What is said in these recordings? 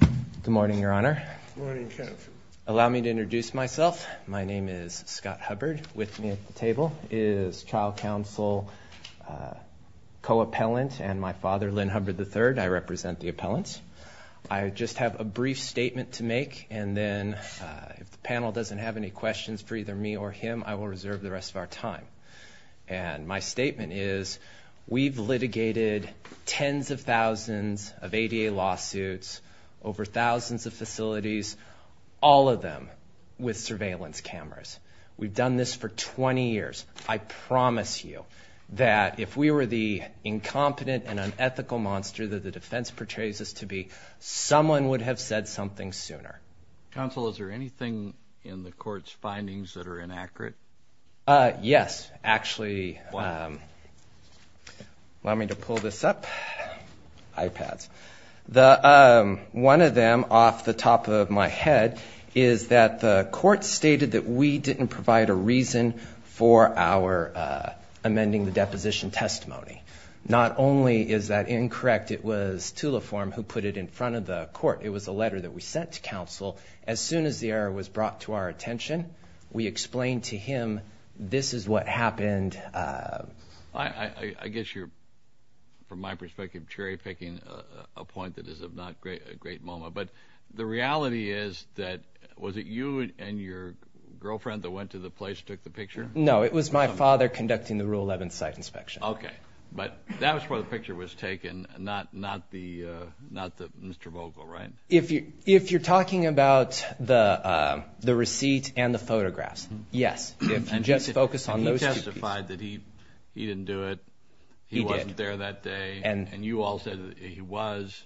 Good morning, Your Honor. Good morning, Counsel. Allow me to introduce myself. My name is Scott Hubbard. With me at the table is Child Counsel co-appellant and my father, Lynn Hubbard III. I represent the appellants. I just have a brief statement to make, and then if the panel doesn't have any questions for either me or him, I will reserve the rest of our time. And my statement is we've litigated tens of thousands of ADA lawsuits over thousands of facilities, all of them with surveillance cameras. We've done this for 20 years. I promise you that if we were the incompetent and unethical monster that the defense portrays us to be, someone would have said something sooner. Counsel, is there anything in the court's findings that are inaccurate? Yes. Actually, allow me to pull this up. iPads. One of them off the top of my head is that the court stated that we didn't provide a reason for our amending the deposition testimony. Not only is that incorrect, it was Tulaphorn who put it in front of the court. It was a letter that we sent to counsel. As soon as the error was brought to our attention, we explained to him this is what happened. I guess you're, from my perspective, cherry-picking a point that is of not great moment. But the reality is that was it you and your girlfriend that went to the place, took the picture? No, it was my father conducting the Rule 11 site inspection. Okay. But that was where the picture was taken, not Mr. Vogel, right? If you're talking about the receipt and the photographs, yes. Just focus on those two pieces. And he testified that he didn't do it. He wasn't there that day. And you all said that he was.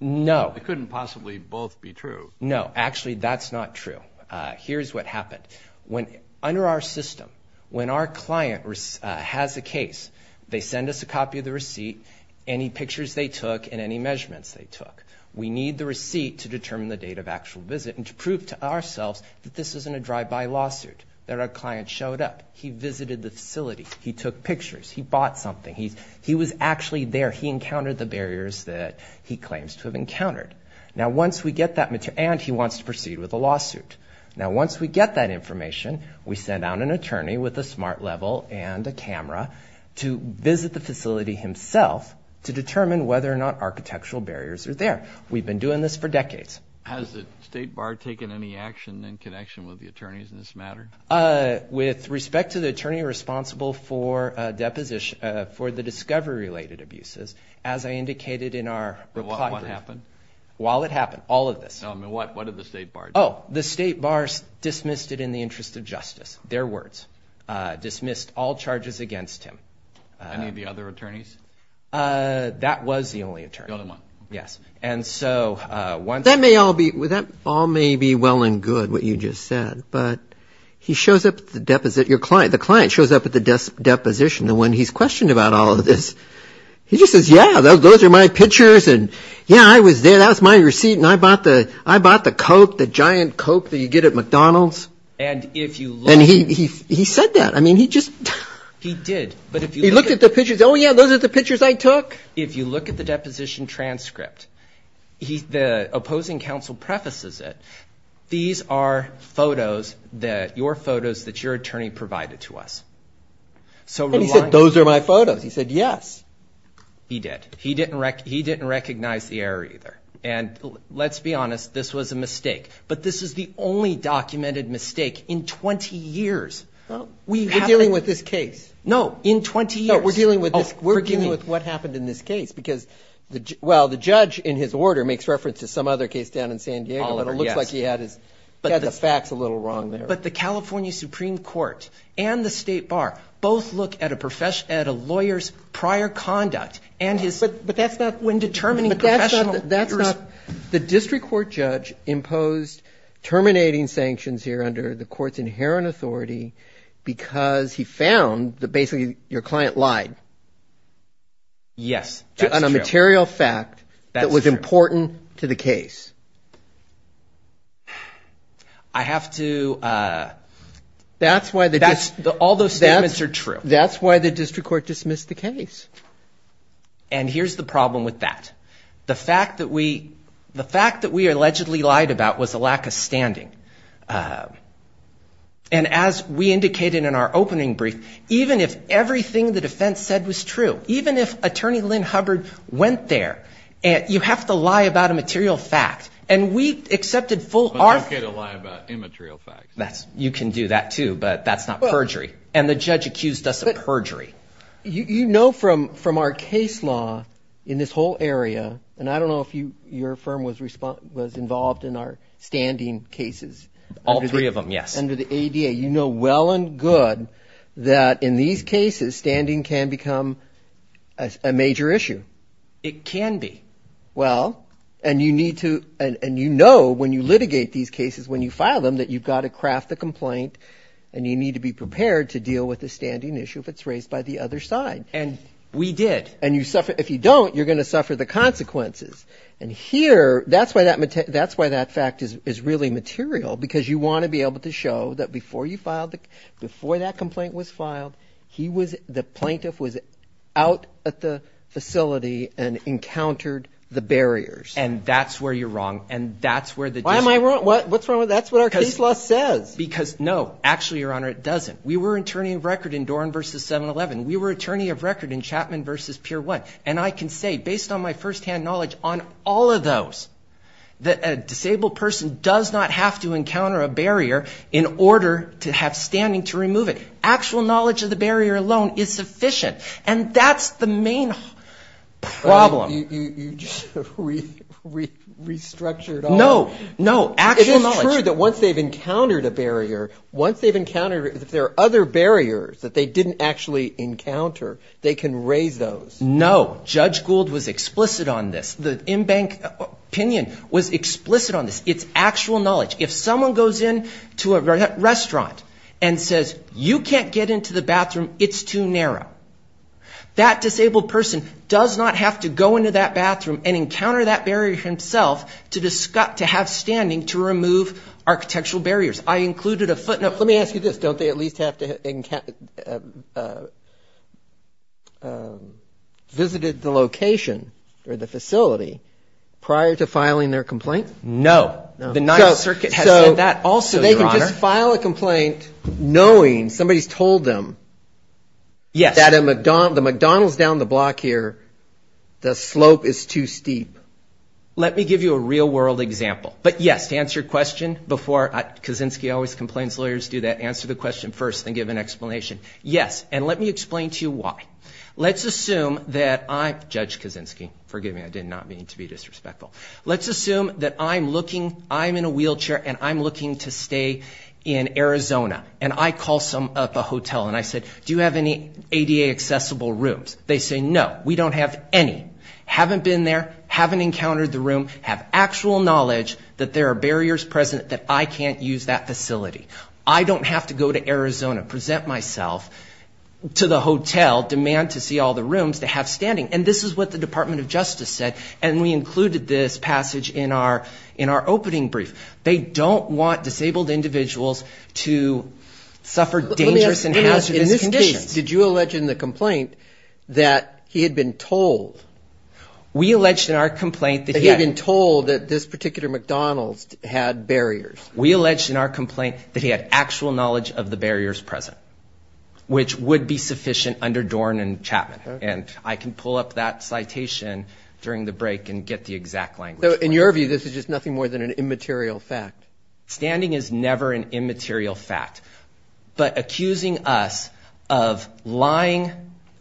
No. It couldn't possibly both be true. No. Actually, that's not true. Here's what happened. Under our system, when our client has a case, they send us a copy of the receipt, any pictures they took, and any measurements they took. We need the receipt to determine the date of actual visit and to prove to ourselves that this isn't a drive-by lawsuit, that our client showed up. He visited the facility. He took pictures. He bought something. He was actually there. He encountered the barriers that he claims to have encountered. And he wants to proceed with a lawsuit. Now, once we get that information, we send out an attorney with a smart level and a camera to visit the facility himself to determine whether or not architectural barriers are there. We've been doing this for decades. Has the State Bar taken any action in connection with the attorneys in this matter? With respect to the attorney responsible for the discovery-related abuses, as I indicated in our report. What happened? While it happened, all of this. No, I mean, what did the State Bar do? Oh, the State Bar dismissed it in the interest of justice, their words. Dismissed all charges against him. Any of the other attorneys? That was the only attorney. The only one. Yes. And so, once the- That may all be well and good, what you just said. But he shows up at the deposit, your client, the client shows up at the deposition, the one he's questioned about all of this. He just says, yeah, those are my pictures. And, yeah, I was there. That was my receipt. And I bought the Coke, the giant Coke that you get at McDonald's. And if you look- And he said that. I mean, he just- He did. But if you look at- He looked at the pictures. Oh, yeah, those are the pictures I took. If you look at the deposition transcript, the opposing counsel prefaces it. These are photos, your photos, that your attorney provided to us. And he said, those are my photos. He said, yes. He did. He didn't recognize the error either. And let's be honest, this was a mistake. But this is the only documented mistake in 20 years. We haven't- We're dealing with this case. No, in 20 years. No, we're dealing with this- Oh, forgive me. We're dealing with what happened in this case. Because, well, the judge in his order makes reference to some other case down in San Diego. Oliver, yes. But it looks like he had the facts a little wrong there. But the California Supreme Court and the state bar both look at a lawyer's prior conduct and his- But that's not when determining professional- But that's not- That's not- The district court judge imposed terminating sanctions here under the court's inherent authority because he found that basically your client lied. Yes, that's true. On a material fact that was important to the case. I have to- That's why the- All those statements are true. That's why the district court dismissed the case. And here's the problem with that. The fact that we allegedly lied about was a lack of standing. And as we indicated in our opening brief, even if everything the defense said was true, even if Attorney Lynn Hubbard went there, you have to lie about a material fact. And we accepted full- But you can't lie about immaterial facts. You can do that too, but that's not perjury. And the judge accused us of perjury. You know from our case law in this whole area, and I don't know if your firm was involved in our standing cases. All three of them, yes. Under the ADA, you know well and good that in these cases, standing can become a major issue. It can be. Well, and you need to- And you know when you litigate these cases, when you file them, that you've got to craft the complaint and you need to be prepared to deal with the standing issue if it's raised by the other side. And we did. And if you don't, you're going to suffer the consequences. And here, that's why that fact is really material, because you want to be able to show that before that complaint was filed, the plaintiff was out at the facility and encountered the barriers. And that's where you're wrong. Why am I wrong? What's wrong with that? That's what our case law says. Because, no, actually, Your Honor, it doesn't. We were attorney of record in Doran v. 7-11. We were attorney of record in Chapman v. Pier 1. And I can say, based on my firsthand knowledge on all of those, that a disabled person does not have to encounter a barrier in order to have standing to remove it. Actual knowledge of the barrier alone is sufficient. And that's the main problem. You just restructured all of it. No, no, actual knowledge. It is true that once they've encountered a barrier, once they've encountered it, if there are other barriers that they didn't actually encounter, they can raise those. No. Judge Gould was explicit on this. The in-bank opinion was explicit on this. It's actual knowledge. If someone goes into a restaurant and says, you can't get into the bathroom, it's too narrow. That disabled person does not have to go into that bathroom and encounter that barrier himself to have standing to remove architectural barriers. I included a footnote. Let me ask you this. Don't they at least have to have visited the location or the facility prior to filing their complaint? No. The Ninth Circuit has said that also, Your Honor. So they can just file a complaint knowing somebody's told them that the McDonald's down the block here, the slope is too steep. Let me give you a real-world example. But yes, to answer your question before, Kaczynski always complains lawyers do that, answer the question first and give an explanation. Yes. And let me explain to you why. Let's assume that I'm, Judge Kaczynski, forgive me, I did not mean to be disrespectful. Let's assume that I'm looking, I'm in a wheelchair and I'm looking to stay in Arizona. And I call up a hotel and I said, do you have any ADA-accessible rooms? They say, no, we don't have any. Haven't been there, haven't encountered the room, have actual knowledge that there are barriers present that I can't use that facility. I don't have to go to Arizona, present myself to the hotel, demand to see all the rooms they have standing. And this is what the Department of Justice said. And we included this passage in our opening brief. They don't want disabled individuals to suffer dangerous and hazardous conditions. Did you allege in the complaint that he had been told? We alleged in our complaint that he had. That he had been told that this particular McDonald's had barriers. We alleged in our complaint that he had actual knowledge of the barriers present, which would be sufficient under Dorn and Chapman. And I can pull up that citation during the break and get the exact language for it. So in your view, this is just nothing more than an immaterial fact. Standing is never an immaterial fact. But accusing us of lying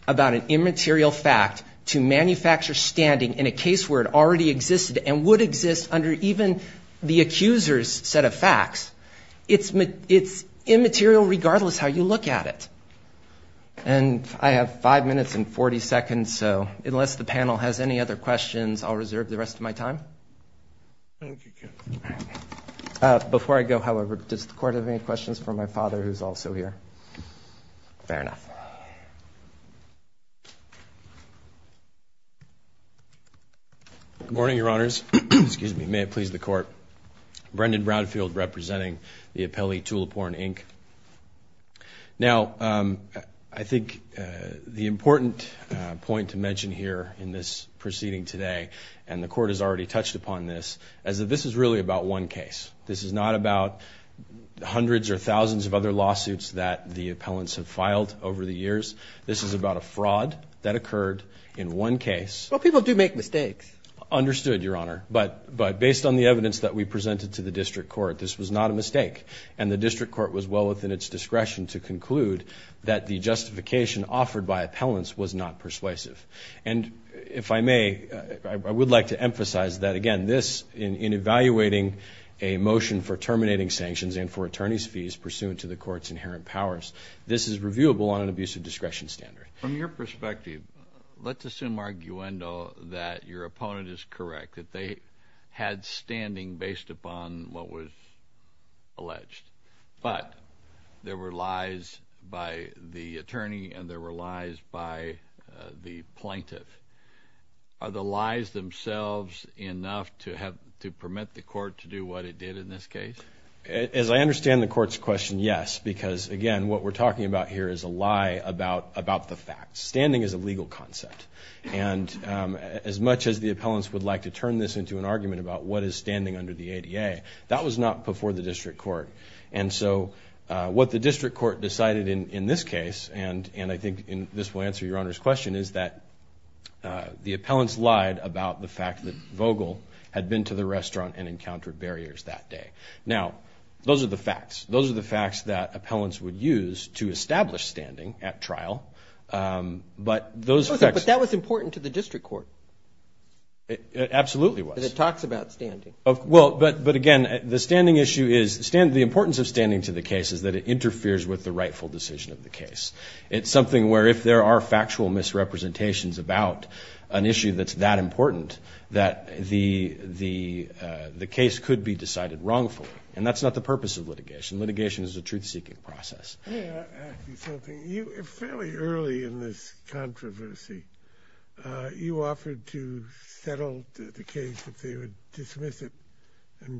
about an immaterial fact to manufacture standing in a case where it already existed and would exist under even the accuser's set of facts, it's immaterial regardless how you look at it. And I have five minutes and 40 seconds, so unless the panel has any other questions, I'll reserve the rest of my time. Thank you, Kenneth. Before I go, however, does the Court have any questions for my father, who's also here? Fair enough. Good morning, Your Honors. Excuse me. May it please the Court. Brendan Brownfield representing the appellee Tuliporn, Inc. Now, I think the important point to mention here in this proceeding today, and the Court has already touched upon this, is that this is really about one case. This is not about hundreds or thousands of other lawsuits that the appellants have filed over the years. This is about a fraud that occurred in one case. Well, people do make mistakes. Understood, Your Honor. But based on the evidence that we presented to the District Court, this was not a mistake, and the District Court was well within its discretion to conclude that the justification offered by appellants was not persuasive. And if I may, I would like to emphasize that, again, this, in evaluating a motion for terminating sanctions and for attorney's fees pursuant to the Court's inherent powers, this is reviewable on an abuse of discretion standard. From your perspective, let's assume, arguendo, that your opponent is correct, that they had standing based upon what was alleged. But there were lies by the attorney and there were lies by the plaintiff. Are the lies themselves enough to permit the Court to do what it did in this case? As I understand the Court's question, yes, because, again, what we're talking about here is a lie about the facts. Standing is a legal concept. And as much as the appellants would like to turn this into an argument about what is standing under the ADA, that was not before the District Court. And so what the District Court decided in this case, and I think this will answer Your Honor's question, is that the appellants lied about the fact that Vogel had been to the restaurant and encountered barriers that day. Now, those are the facts. Those are the facts that appellants would use to establish standing at trial. But those facts... But that was important to the District Court. It absolutely was. Because it talks about standing. Well, but, again, the standing issue is, the importance of standing to the case is that it interferes with the rightful decision of the case. It's something where if there are factual misrepresentations about an issue that's that important, that the case could be decided wrongfully. And that's not the purpose of litigation. Litigation is a truth-seeking process. Let me ask you something. You, fairly early in this controversy, you offered to settle the case if they would dismiss it I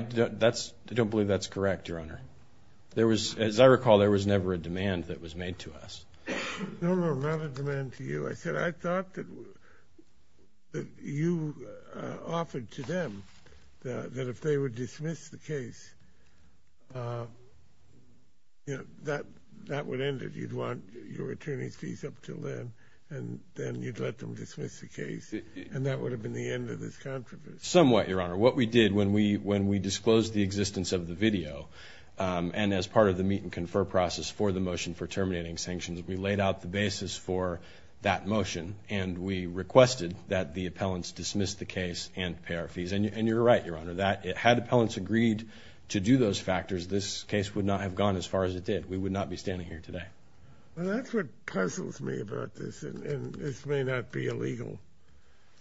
don't believe that's correct, Your Honor. As I recall, there was never a demand that was made to us. No, no, not a demand to you. I said I thought that you offered to them that if they would dismiss the case, that would end it. You'd want your attorney's fees up until then, and then you'd let them dismiss the case. And that would have been the end of this controversy. Somewhat, Your Honor. What we did when we disclosed the existence of the video, and as part of the meet-and-confer process for the motion for terminating sanctions, we laid out the basis for that motion, and we requested that the appellants dismiss the case and pay our fees. And you're right, Your Honor, that had appellants agreed to do those factors, this case would not have gone as far as it did. We would not be standing here today. Well, that's what puzzles me about this, and this may not be a legal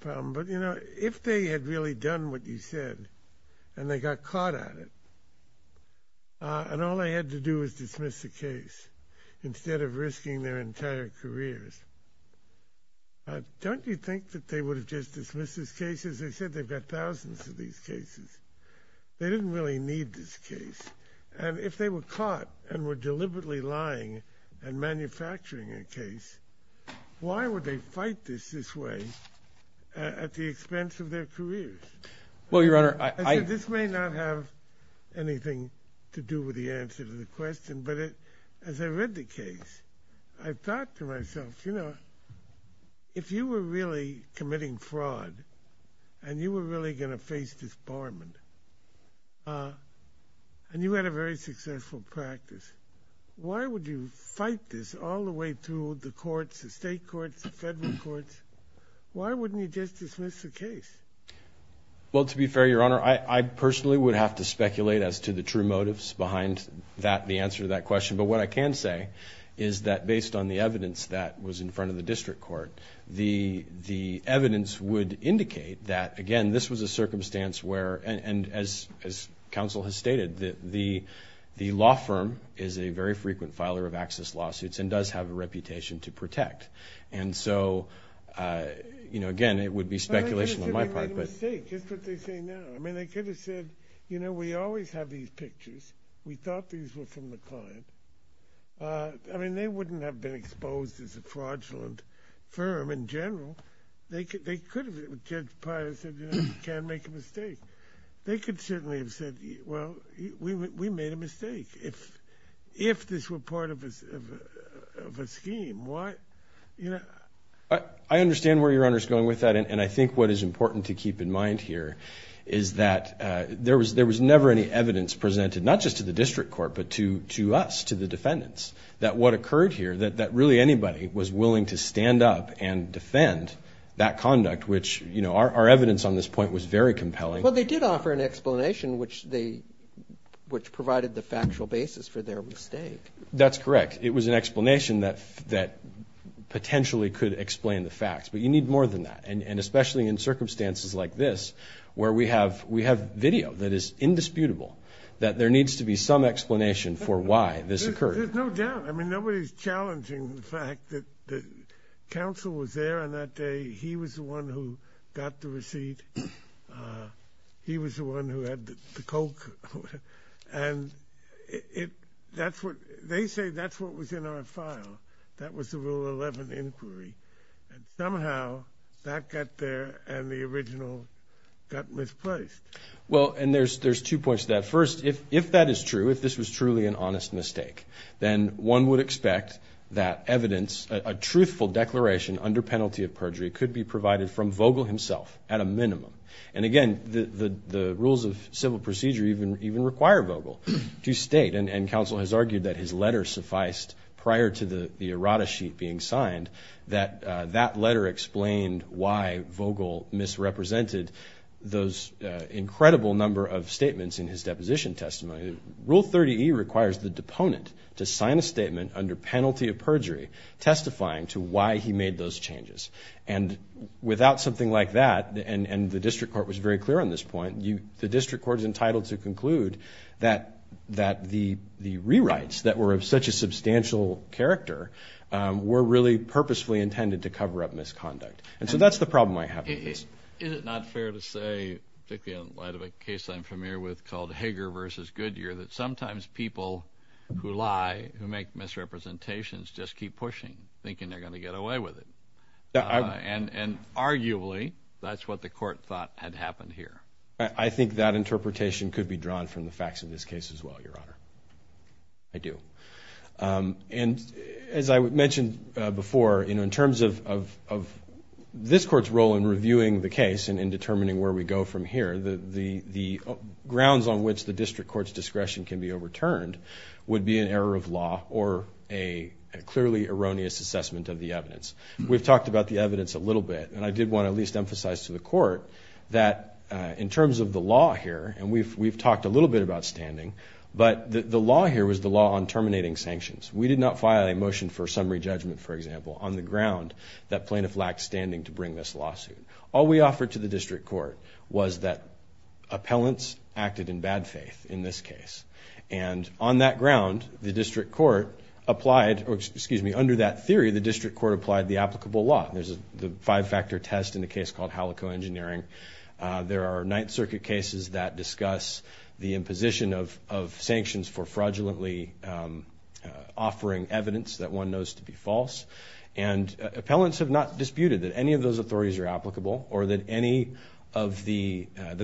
problem. But, you know, if they had really done what you said, and they got caught at it, and all they had to do was dismiss the case instead of risking their entire careers, don't you think that they would have just dismissed this case? As I said, they've got thousands of these cases. They didn't really need this case. And if they were caught and were deliberately lying and manufacturing a case, why would they fight this this way at the expense of their careers? Well, Your Honor, I... As I said, this may not have anything to do with the answer to the question, but as I read the case, I thought to myself, you know, if you were really committing fraud and you were really going to face disbarment, and you had a very successful practice, why would you fight this all the way through the courts, the state courts, the federal courts? Why wouldn't you just dismiss the case? Well, to be fair, Your Honor, I personally would have to speculate as to the true motives behind that, the answer to that question. But what I can say is that based on the evidence that was in front of the district court, the evidence would indicate that, again, this was a circumstance where, and as counsel has stated, the law firm is a very frequent filer of access lawsuits and does have a reputation to protect. And so, you know, again, it would be speculation on my part. But they made a mistake. Just what they say now. I mean, they could have said, you know, we always have these pictures. We thought these were from the client. I mean, they wouldn't have been exposed as a fraudulent firm in general. They could have. Judge Pius said, you know, you can't make a mistake. They could certainly have said, well, we made a mistake. If this were part of a scheme, why, you know. I understand where Your Honor is going with that, and I think what is important to keep in mind here is that there was never any evidence presented, not just to the district court, but to us, to the defendants, that what occurred here, that really anybody was willing to stand up and defend that conduct, which, you know, our evidence on this point was very compelling. Well, they did offer an explanation which provided the factual basis for their mistake. That's correct. It was an explanation that potentially could explain the facts. But you need more than that. And especially in circumstances like this where we have video that is indisputable, that there needs to be some explanation for why this occurred. There's no doubt. I mean, nobody's challenging the fact that the counsel was there on that day. He was the one who got the receipt. He was the one who had the Coke. And they say that's what was in our file. That was the Rule 11 inquiry. And somehow that got there and the original got misplaced. Well, and there's two points to that. First, if that is true, if this was truly an honest mistake, then one would expect that evidence, a truthful declaration under penalty of perjury, could be provided from Vogel himself at a minimum. And, again, the rules of civil procedure even require Vogel to state, and counsel has argued that his letter sufficed prior to the errata sheet being signed, that that letter explained why Vogel misrepresented those incredible number of statements in his deposition testimony. Rule 30E requires the deponent to sign a statement under penalty of perjury testifying to why he made those changes. And without something like that, and the district court was very clear on this point, the district court is entitled to conclude that the rewrites that were of such a substantial character were really purposefully intended to cover up misconduct. And so that's the problem I have with this. Is it not fair to say, particularly in light of a case I'm familiar with called Hager v. Goodyear, that sometimes people who lie, who make misrepresentations, just keep pushing, thinking they're going to get away with it? And arguably, that's what the court thought had happened here. I think that interpretation could be drawn from the facts of this case as well, Your Honor. I do. And as I mentioned before, in terms of this court's role in reviewing the case and in determining where we go from here, the grounds on which the district court's discretion can be overturned would be an error of law or a clearly erroneous assessment of the evidence. We've talked about the evidence a little bit, and I did want to at least emphasize to the court that in terms of the law here, and we've talked a little bit about standing, but the law here was the law on terminating sanctions. We did not file a motion for summary judgment, for example, on the ground that plaintiff lacked standing to bring this lawsuit. All we offered to the district court was that appellants acted in bad faith in this case. And on that ground, the district court applied, or excuse me, under that theory, the district court applied the applicable law. There's the five-factor test in the case called Halico Engineering. There are Ninth Circuit cases that discuss the imposition of sanctions for fraudulently offering evidence that one knows to be false. And appellants have not disputed that any of those authorities are applicable or that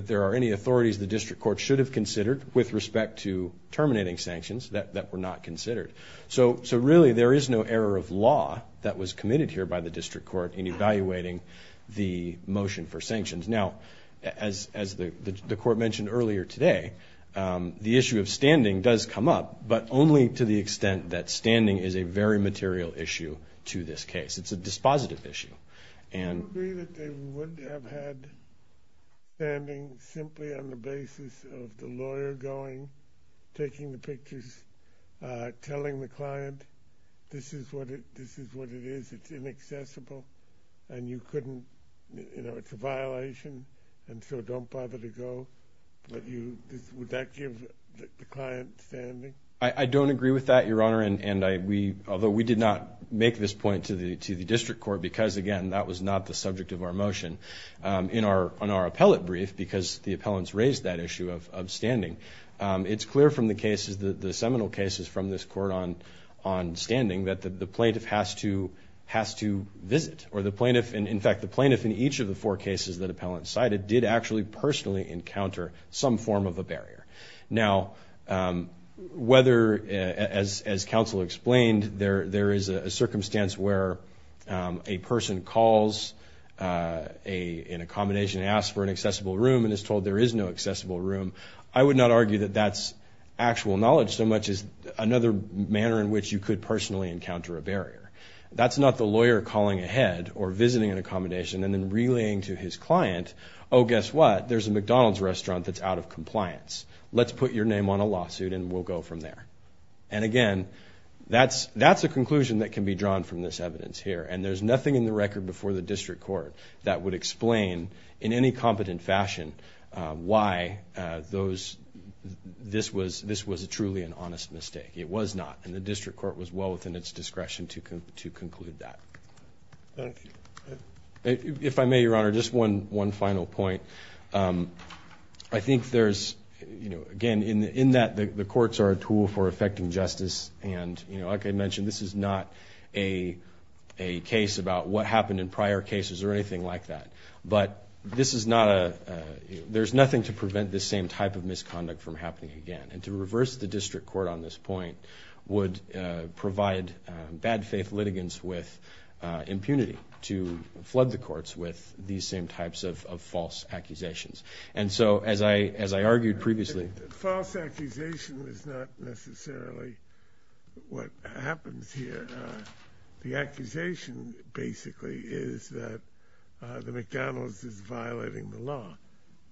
there are any authorities the district court should have considered with respect to terminating sanctions that were not considered. So really, there is no error of law that was committed here by the district court in evaluating the motion for sanctions. Now, as the court mentioned earlier today, the issue of standing does come up, but only to the extent that standing is a very material issue to this case. It's a dispositive issue. Do you agree that they would have had standing simply on the basis of the lawyer going, taking the pictures, telling the client, this is what it is, it's inaccessible, and you couldn't, you know, it's a violation, and so don't bother to go? Would that give the client standing? I don't agree with that, Your Honor, although we did not make this point to the district court because, again, that was not the subject of our motion on our appellate brief because the appellants raised that issue of standing. It's clear from the cases, the seminal cases from this court on standing, that the plaintiff has to visit. In fact, the plaintiff in each of the four cases that appellants cited did actually personally encounter some form of a barrier. Now, whether, as counsel explained, there is a circumstance where a person calls an accommodation and asks for an accessible room and is told there is no accessible room, I would not argue that that's actual knowledge so much as another manner in which you could personally encounter a barrier. That's not the lawyer calling ahead or visiting an accommodation and then relaying to his client, oh, guess what? There's a McDonald's restaurant that's out of compliance. Let's put your name on a lawsuit and we'll go from there. And, again, that's a conclusion that can be drawn from this evidence here, and there's nothing in the record before the district court that would explain in any competent fashion why this was truly an honest mistake. It was not, and the district court was well within its discretion to conclude that. Thank you. If I may, Your Honor, just one final point. I think there's, again, in that the courts are a tool for effecting justice, and like I mentioned, this is not a case about what happened in prior cases or anything like that, but this is not a – there's nothing to prevent this same type of misconduct from happening again. And to reverse the district court on this point would provide bad faith litigants with impunity to flood the courts with these same types of false accusations. And so, as I argued previously – False accusation is not necessarily what happens here. The accusation, basically, is that the McDonald's is violating the law,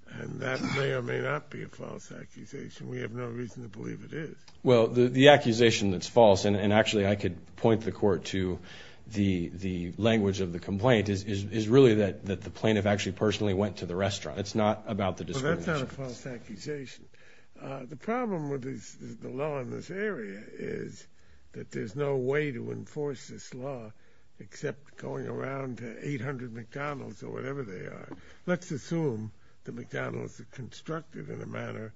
and that may or may not be a false accusation. We have no reason to believe it is. Well, the accusation that's false – and, actually, I could point the court to the language of the complaint – is really that the plaintiff actually personally went to the restaurant. It's not about the discrimination. Well, that's not a false accusation. The problem with the law in this area is that there's no way to enforce this law except going around to 800 McDonald's or whatever they are. Let's assume the McDonald's is constructed in a manner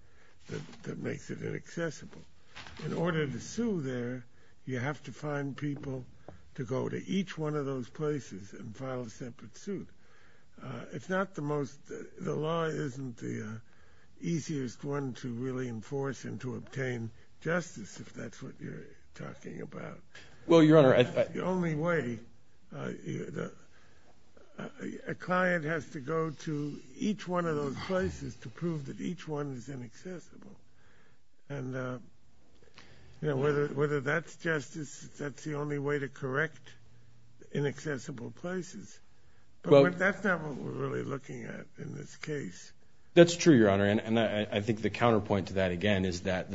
that makes it inaccessible. In order to sue there, you have to find people to go to each one of those places and file a separate suit. It's not the most – the law isn't the easiest one to really enforce and to obtain justice, if that's what you're talking about. Well, Your Honor – The only way – a client has to go to each one of those places to prove that each one is inaccessible. And whether that's justice, that's the only way to correct inaccessible places. But that's not what we're really looking at in this case. That's true, Your Honor, and I think the counterpoint to that, again, is that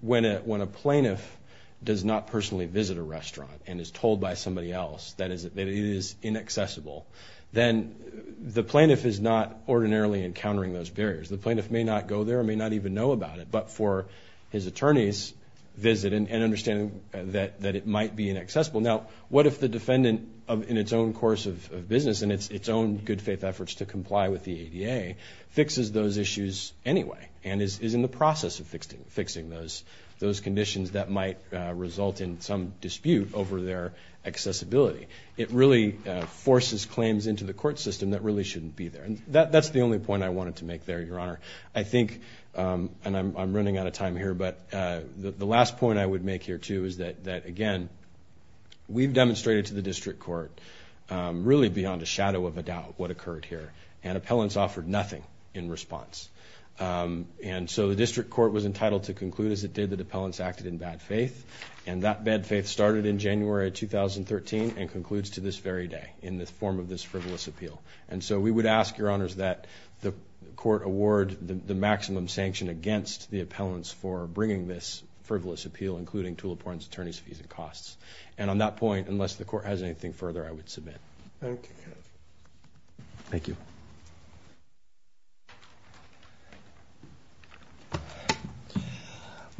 when a plaintiff does not personally visit a restaurant and is told by somebody else that it is inaccessible, then the plaintiff is not ordinarily encountering those barriers. The plaintiff may not go there and may not even know about it, but for his attorney's visit and understanding that it might be inaccessible. Now, what if the defendant, in its own course of business and its own good-faith efforts to comply with the ADA, fixes those issues anyway and is in the process of fixing those conditions that might result in some dispute over their accessibility? It really forces claims into the court system that really shouldn't be there. And that's the only point I wanted to make there, Your Honor. I think – and I'm running out of time here, but the last point I would make here, too, is that, again, we've demonstrated to the district court really beyond a shadow of a doubt what occurred here, and appellants offered nothing in response. And so the district court was entitled to conclude, as it did, that appellants acted in bad faith, and that bad faith started in January of 2013 and concludes to this very day in the form of this frivolous appeal. And so we would ask, Your Honors, that the court award the maximum sanction against the appellants for bringing this frivolous appeal, including Tulip Warren's attorney's fees and costs. And on that point, unless the court has anything further, I would submit. Thank you.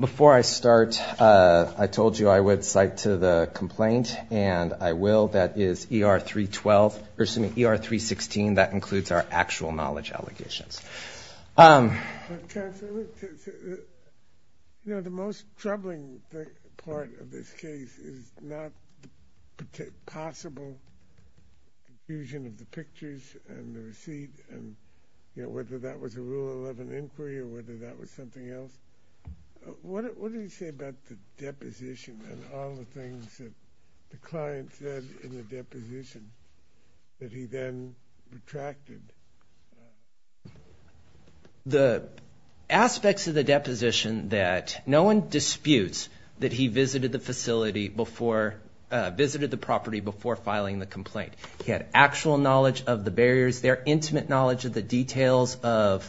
Before I start, I told you I would cite to the complaint, and I will. That is ER 312 – or, excuse me, ER 316. That includes our actual knowledge allegations. Counsel, you know, the most troubling part of this case is not the possible fusion of the pictures and the receipt and, you know, whether that was a Rule 11 inquiry or whether that was something else. What do you say about the deposition and all the things that the client said in the deposition that he then retracted? The aspects of the deposition that no one disputes that he visited the facility before – visited the property before filing the complaint. He had actual knowledge of the barriers. Their intimate knowledge of the details of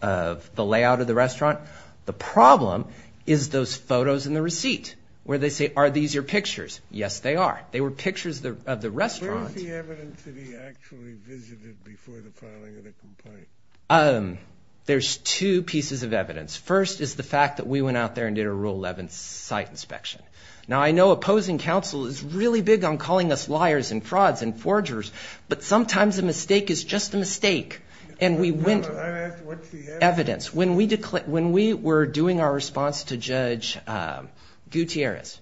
the layout of the restaurant. The problem is those photos in the receipt where they say, are these your pictures? Yes, they are. They were pictures of the restaurant. Where is the evidence that he actually visited before the filing of the complaint? There's two pieces of evidence. First is the fact that we went out there and did a Rule 11 site inspection. Now, I know opposing counsel is really big on calling us liars and frauds and forgers, but sometimes a mistake is just a mistake. And we went to evidence. When we were doing our response to Judge Gutierrez,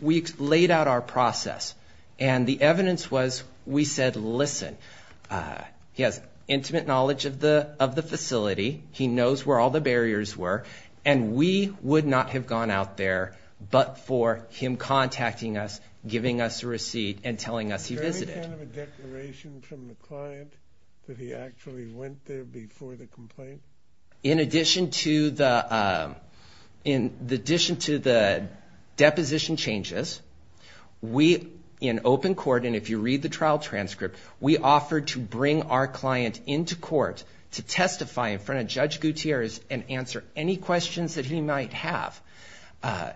we laid out our process, and the evidence was we said, listen, he has intimate knowledge of the facility, he knows where all the barriers were, and we would not have gone out there but for him contacting us, giving us a receipt, and telling us he visited. Is there any kind of a declaration from the client that he actually went there before the complaint? In addition to the deposition changes, we, in open court, and if you read the trial transcript, we offered to bring our client into court to testify in front of Judge Gutierrez and answer any questions that he might have,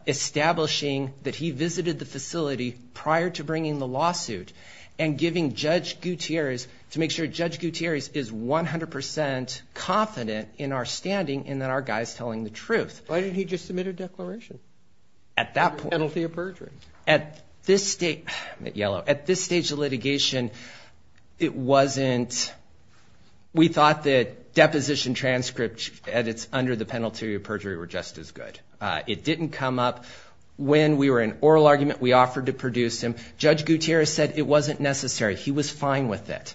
establishing that he visited the facility prior to bringing the lawsuit and giving Judge Gutierrez to make sure Judge Gutierrez is 100% confident in our standing and that our guy is telling the truth. Why didn't he just submit a declaration? At that point. Under penalty of perjury. At this stage of litigation, it wasn't. We thought that deposition transcripts under the penalty of perjury were just as good. It didn't come up. When we were in oral argument, we offered to produce him. Judge Gutierrez said it wasn't necessary. He was fine with it.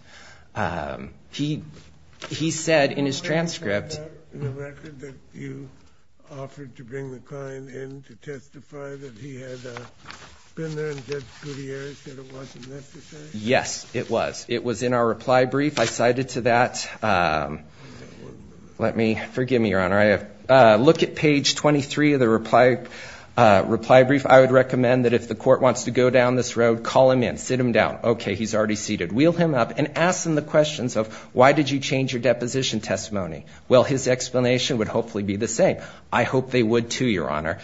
He said in his transcript. Was that in the record that you offered to bring the client in to testify that he had been there and Judge Gutierrez said it wasn't necessary? Yes, it was. I cited to that. Forgive me, Your Honor. Look at page 23 of the reply brief. I would recommend that if the court wants to go down this road, call him in. Sit him down. Okay, he's already seated. Wheel him up and ask him the questions of why did you change your deposition testimony? Well, his explanation would hopefully be the same. I hope they would, too, Your Honor.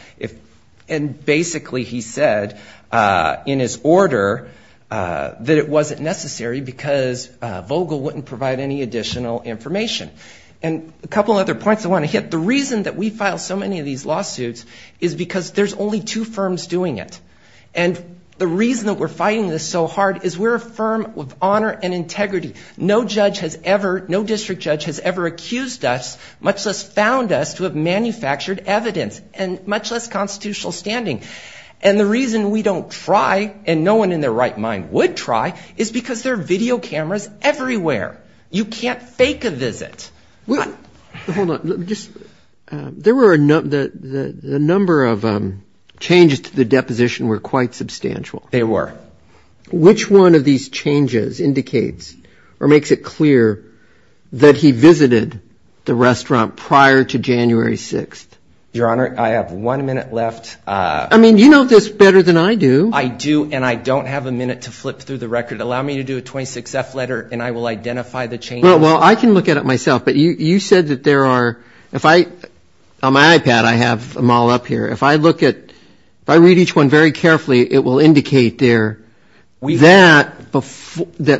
And basically he said in his order that it wasn't necessary because Vogel wouldn't provide any additional information. And a couple other points I want to hit. The reason that we file so many of these lawsuits is because there's only two firms doing it. And the reason that we're fighting this so hard is we're a firm with honor and integrity. No judge has ever, no district judge has ever accused us, much less found us to have manufactured evidence, and much less constitutional standing. And the reason we don't try, and no one in their right mind would try, is because there are video cameras everywhere. You can't fake a visit. Hold on. There were a number of changes to the deposition were quite substantial. They were. Which one of these changes indicates or makes it clear that he visited the restaurant prior to January 6th? Your Honor, I have one minute left. I mean, you know this better than I do. I do, and I don't have a minute to flip through the record. Allow me to do a 26-F letter and I will identify the changes. Well, I can look at it myself. But you said that there are, if I, on my iPad I have them all up here. If I look at, if I read each one very carefully, it will indicate there that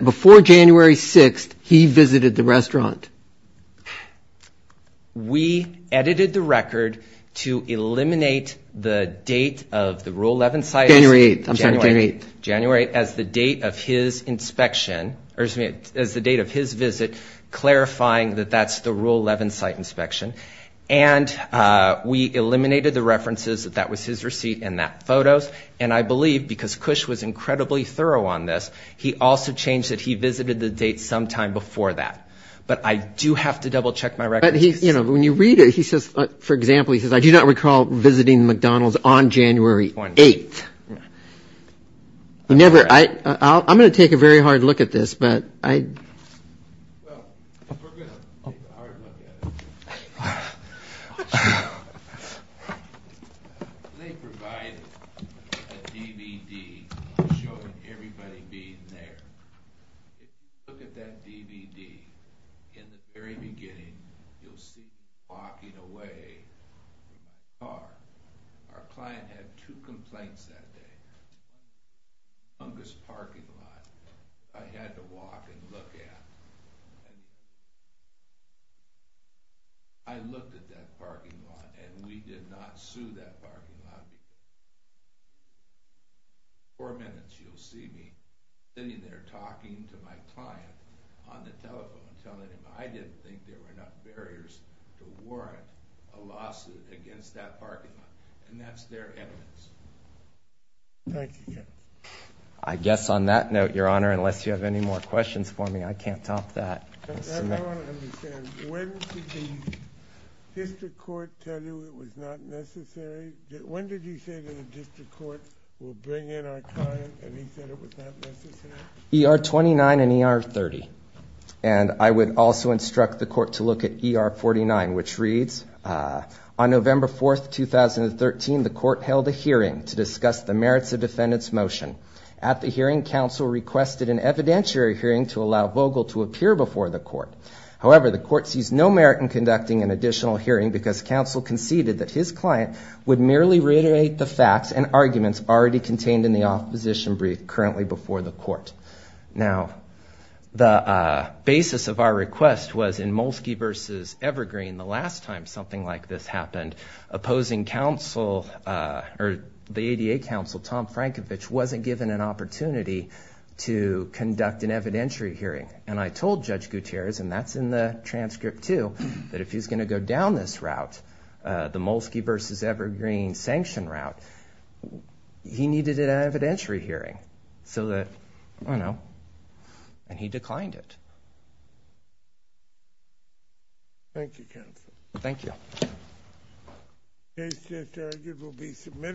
before January 6th he visited the restaurant. We edited the record to eliminate the date of the Rule 11 site. January 8th. January 8th as the date of his inspection, or excuse me, as the date of his visit, clarifying that that's the Rule 11 site inspection. And we eliminated the references that that was his receipt and that photo's. And I believe because Cush was incredibly thorough on this, he also changed that he visited the date sometime before that. But I do have to double check my records. But he, you know, when you read it, he says, for example, he says, I do not recall visiting McDonald's on January 8th. Never. I'm going to take a very hard look at this, but I. Well, we're going to take a hard look at it. They provided a DVD showing everybody being there. Look at that DVD. In the very beginning, you'll see me walking away in the car. Our client had two complaints that day. Fungus parking lot. I had to walk and look at. I looked at that parking lot, and we did not sue that parking lot. Four minutes, you'll see me sitting there talking to my client on the telephone telling him I didn't think there were enough barriers to warrant a lawsuit against that parking lot. And that's their evidence. Thank you, Jeff. I guess on that note, Your Honor, unless you have any more questions for me, I can't top that. I want to understand. When did the district court tell you it was not necessary? When did you say that the district court will bring in our client and he said it was not necessary? ER-29 and ER-30. And I would also instruct the court to look at ER-49, which reads, on November 4, 2013, the court held a hearing to discuss the merits of defendant's motion. At the hearing, counsel requested an evidentiary hearing to allow Vogel to appear before the court. However, the court sees no merit in conducting an additional hearing because counsel conceded that his client would merely reiterate the facts and arguments already contained in the opposition brief currently before the court. Now, the basis of our request was in Molsky v. Evergreen, the last time something like this happened, opposing counsel or the ADA counsel, Tom Frankovich, wasn't given an opportunity to conduct an evidentiary hearing. And I told Judge Gutierrez, and that's in the transcript too, that if he's going to go down this route, the Molsky v. Evergreen sanction route, he needed an evidentiary hearing. So that, I don't know. And he declined it. Thank you, counsel. Thank you.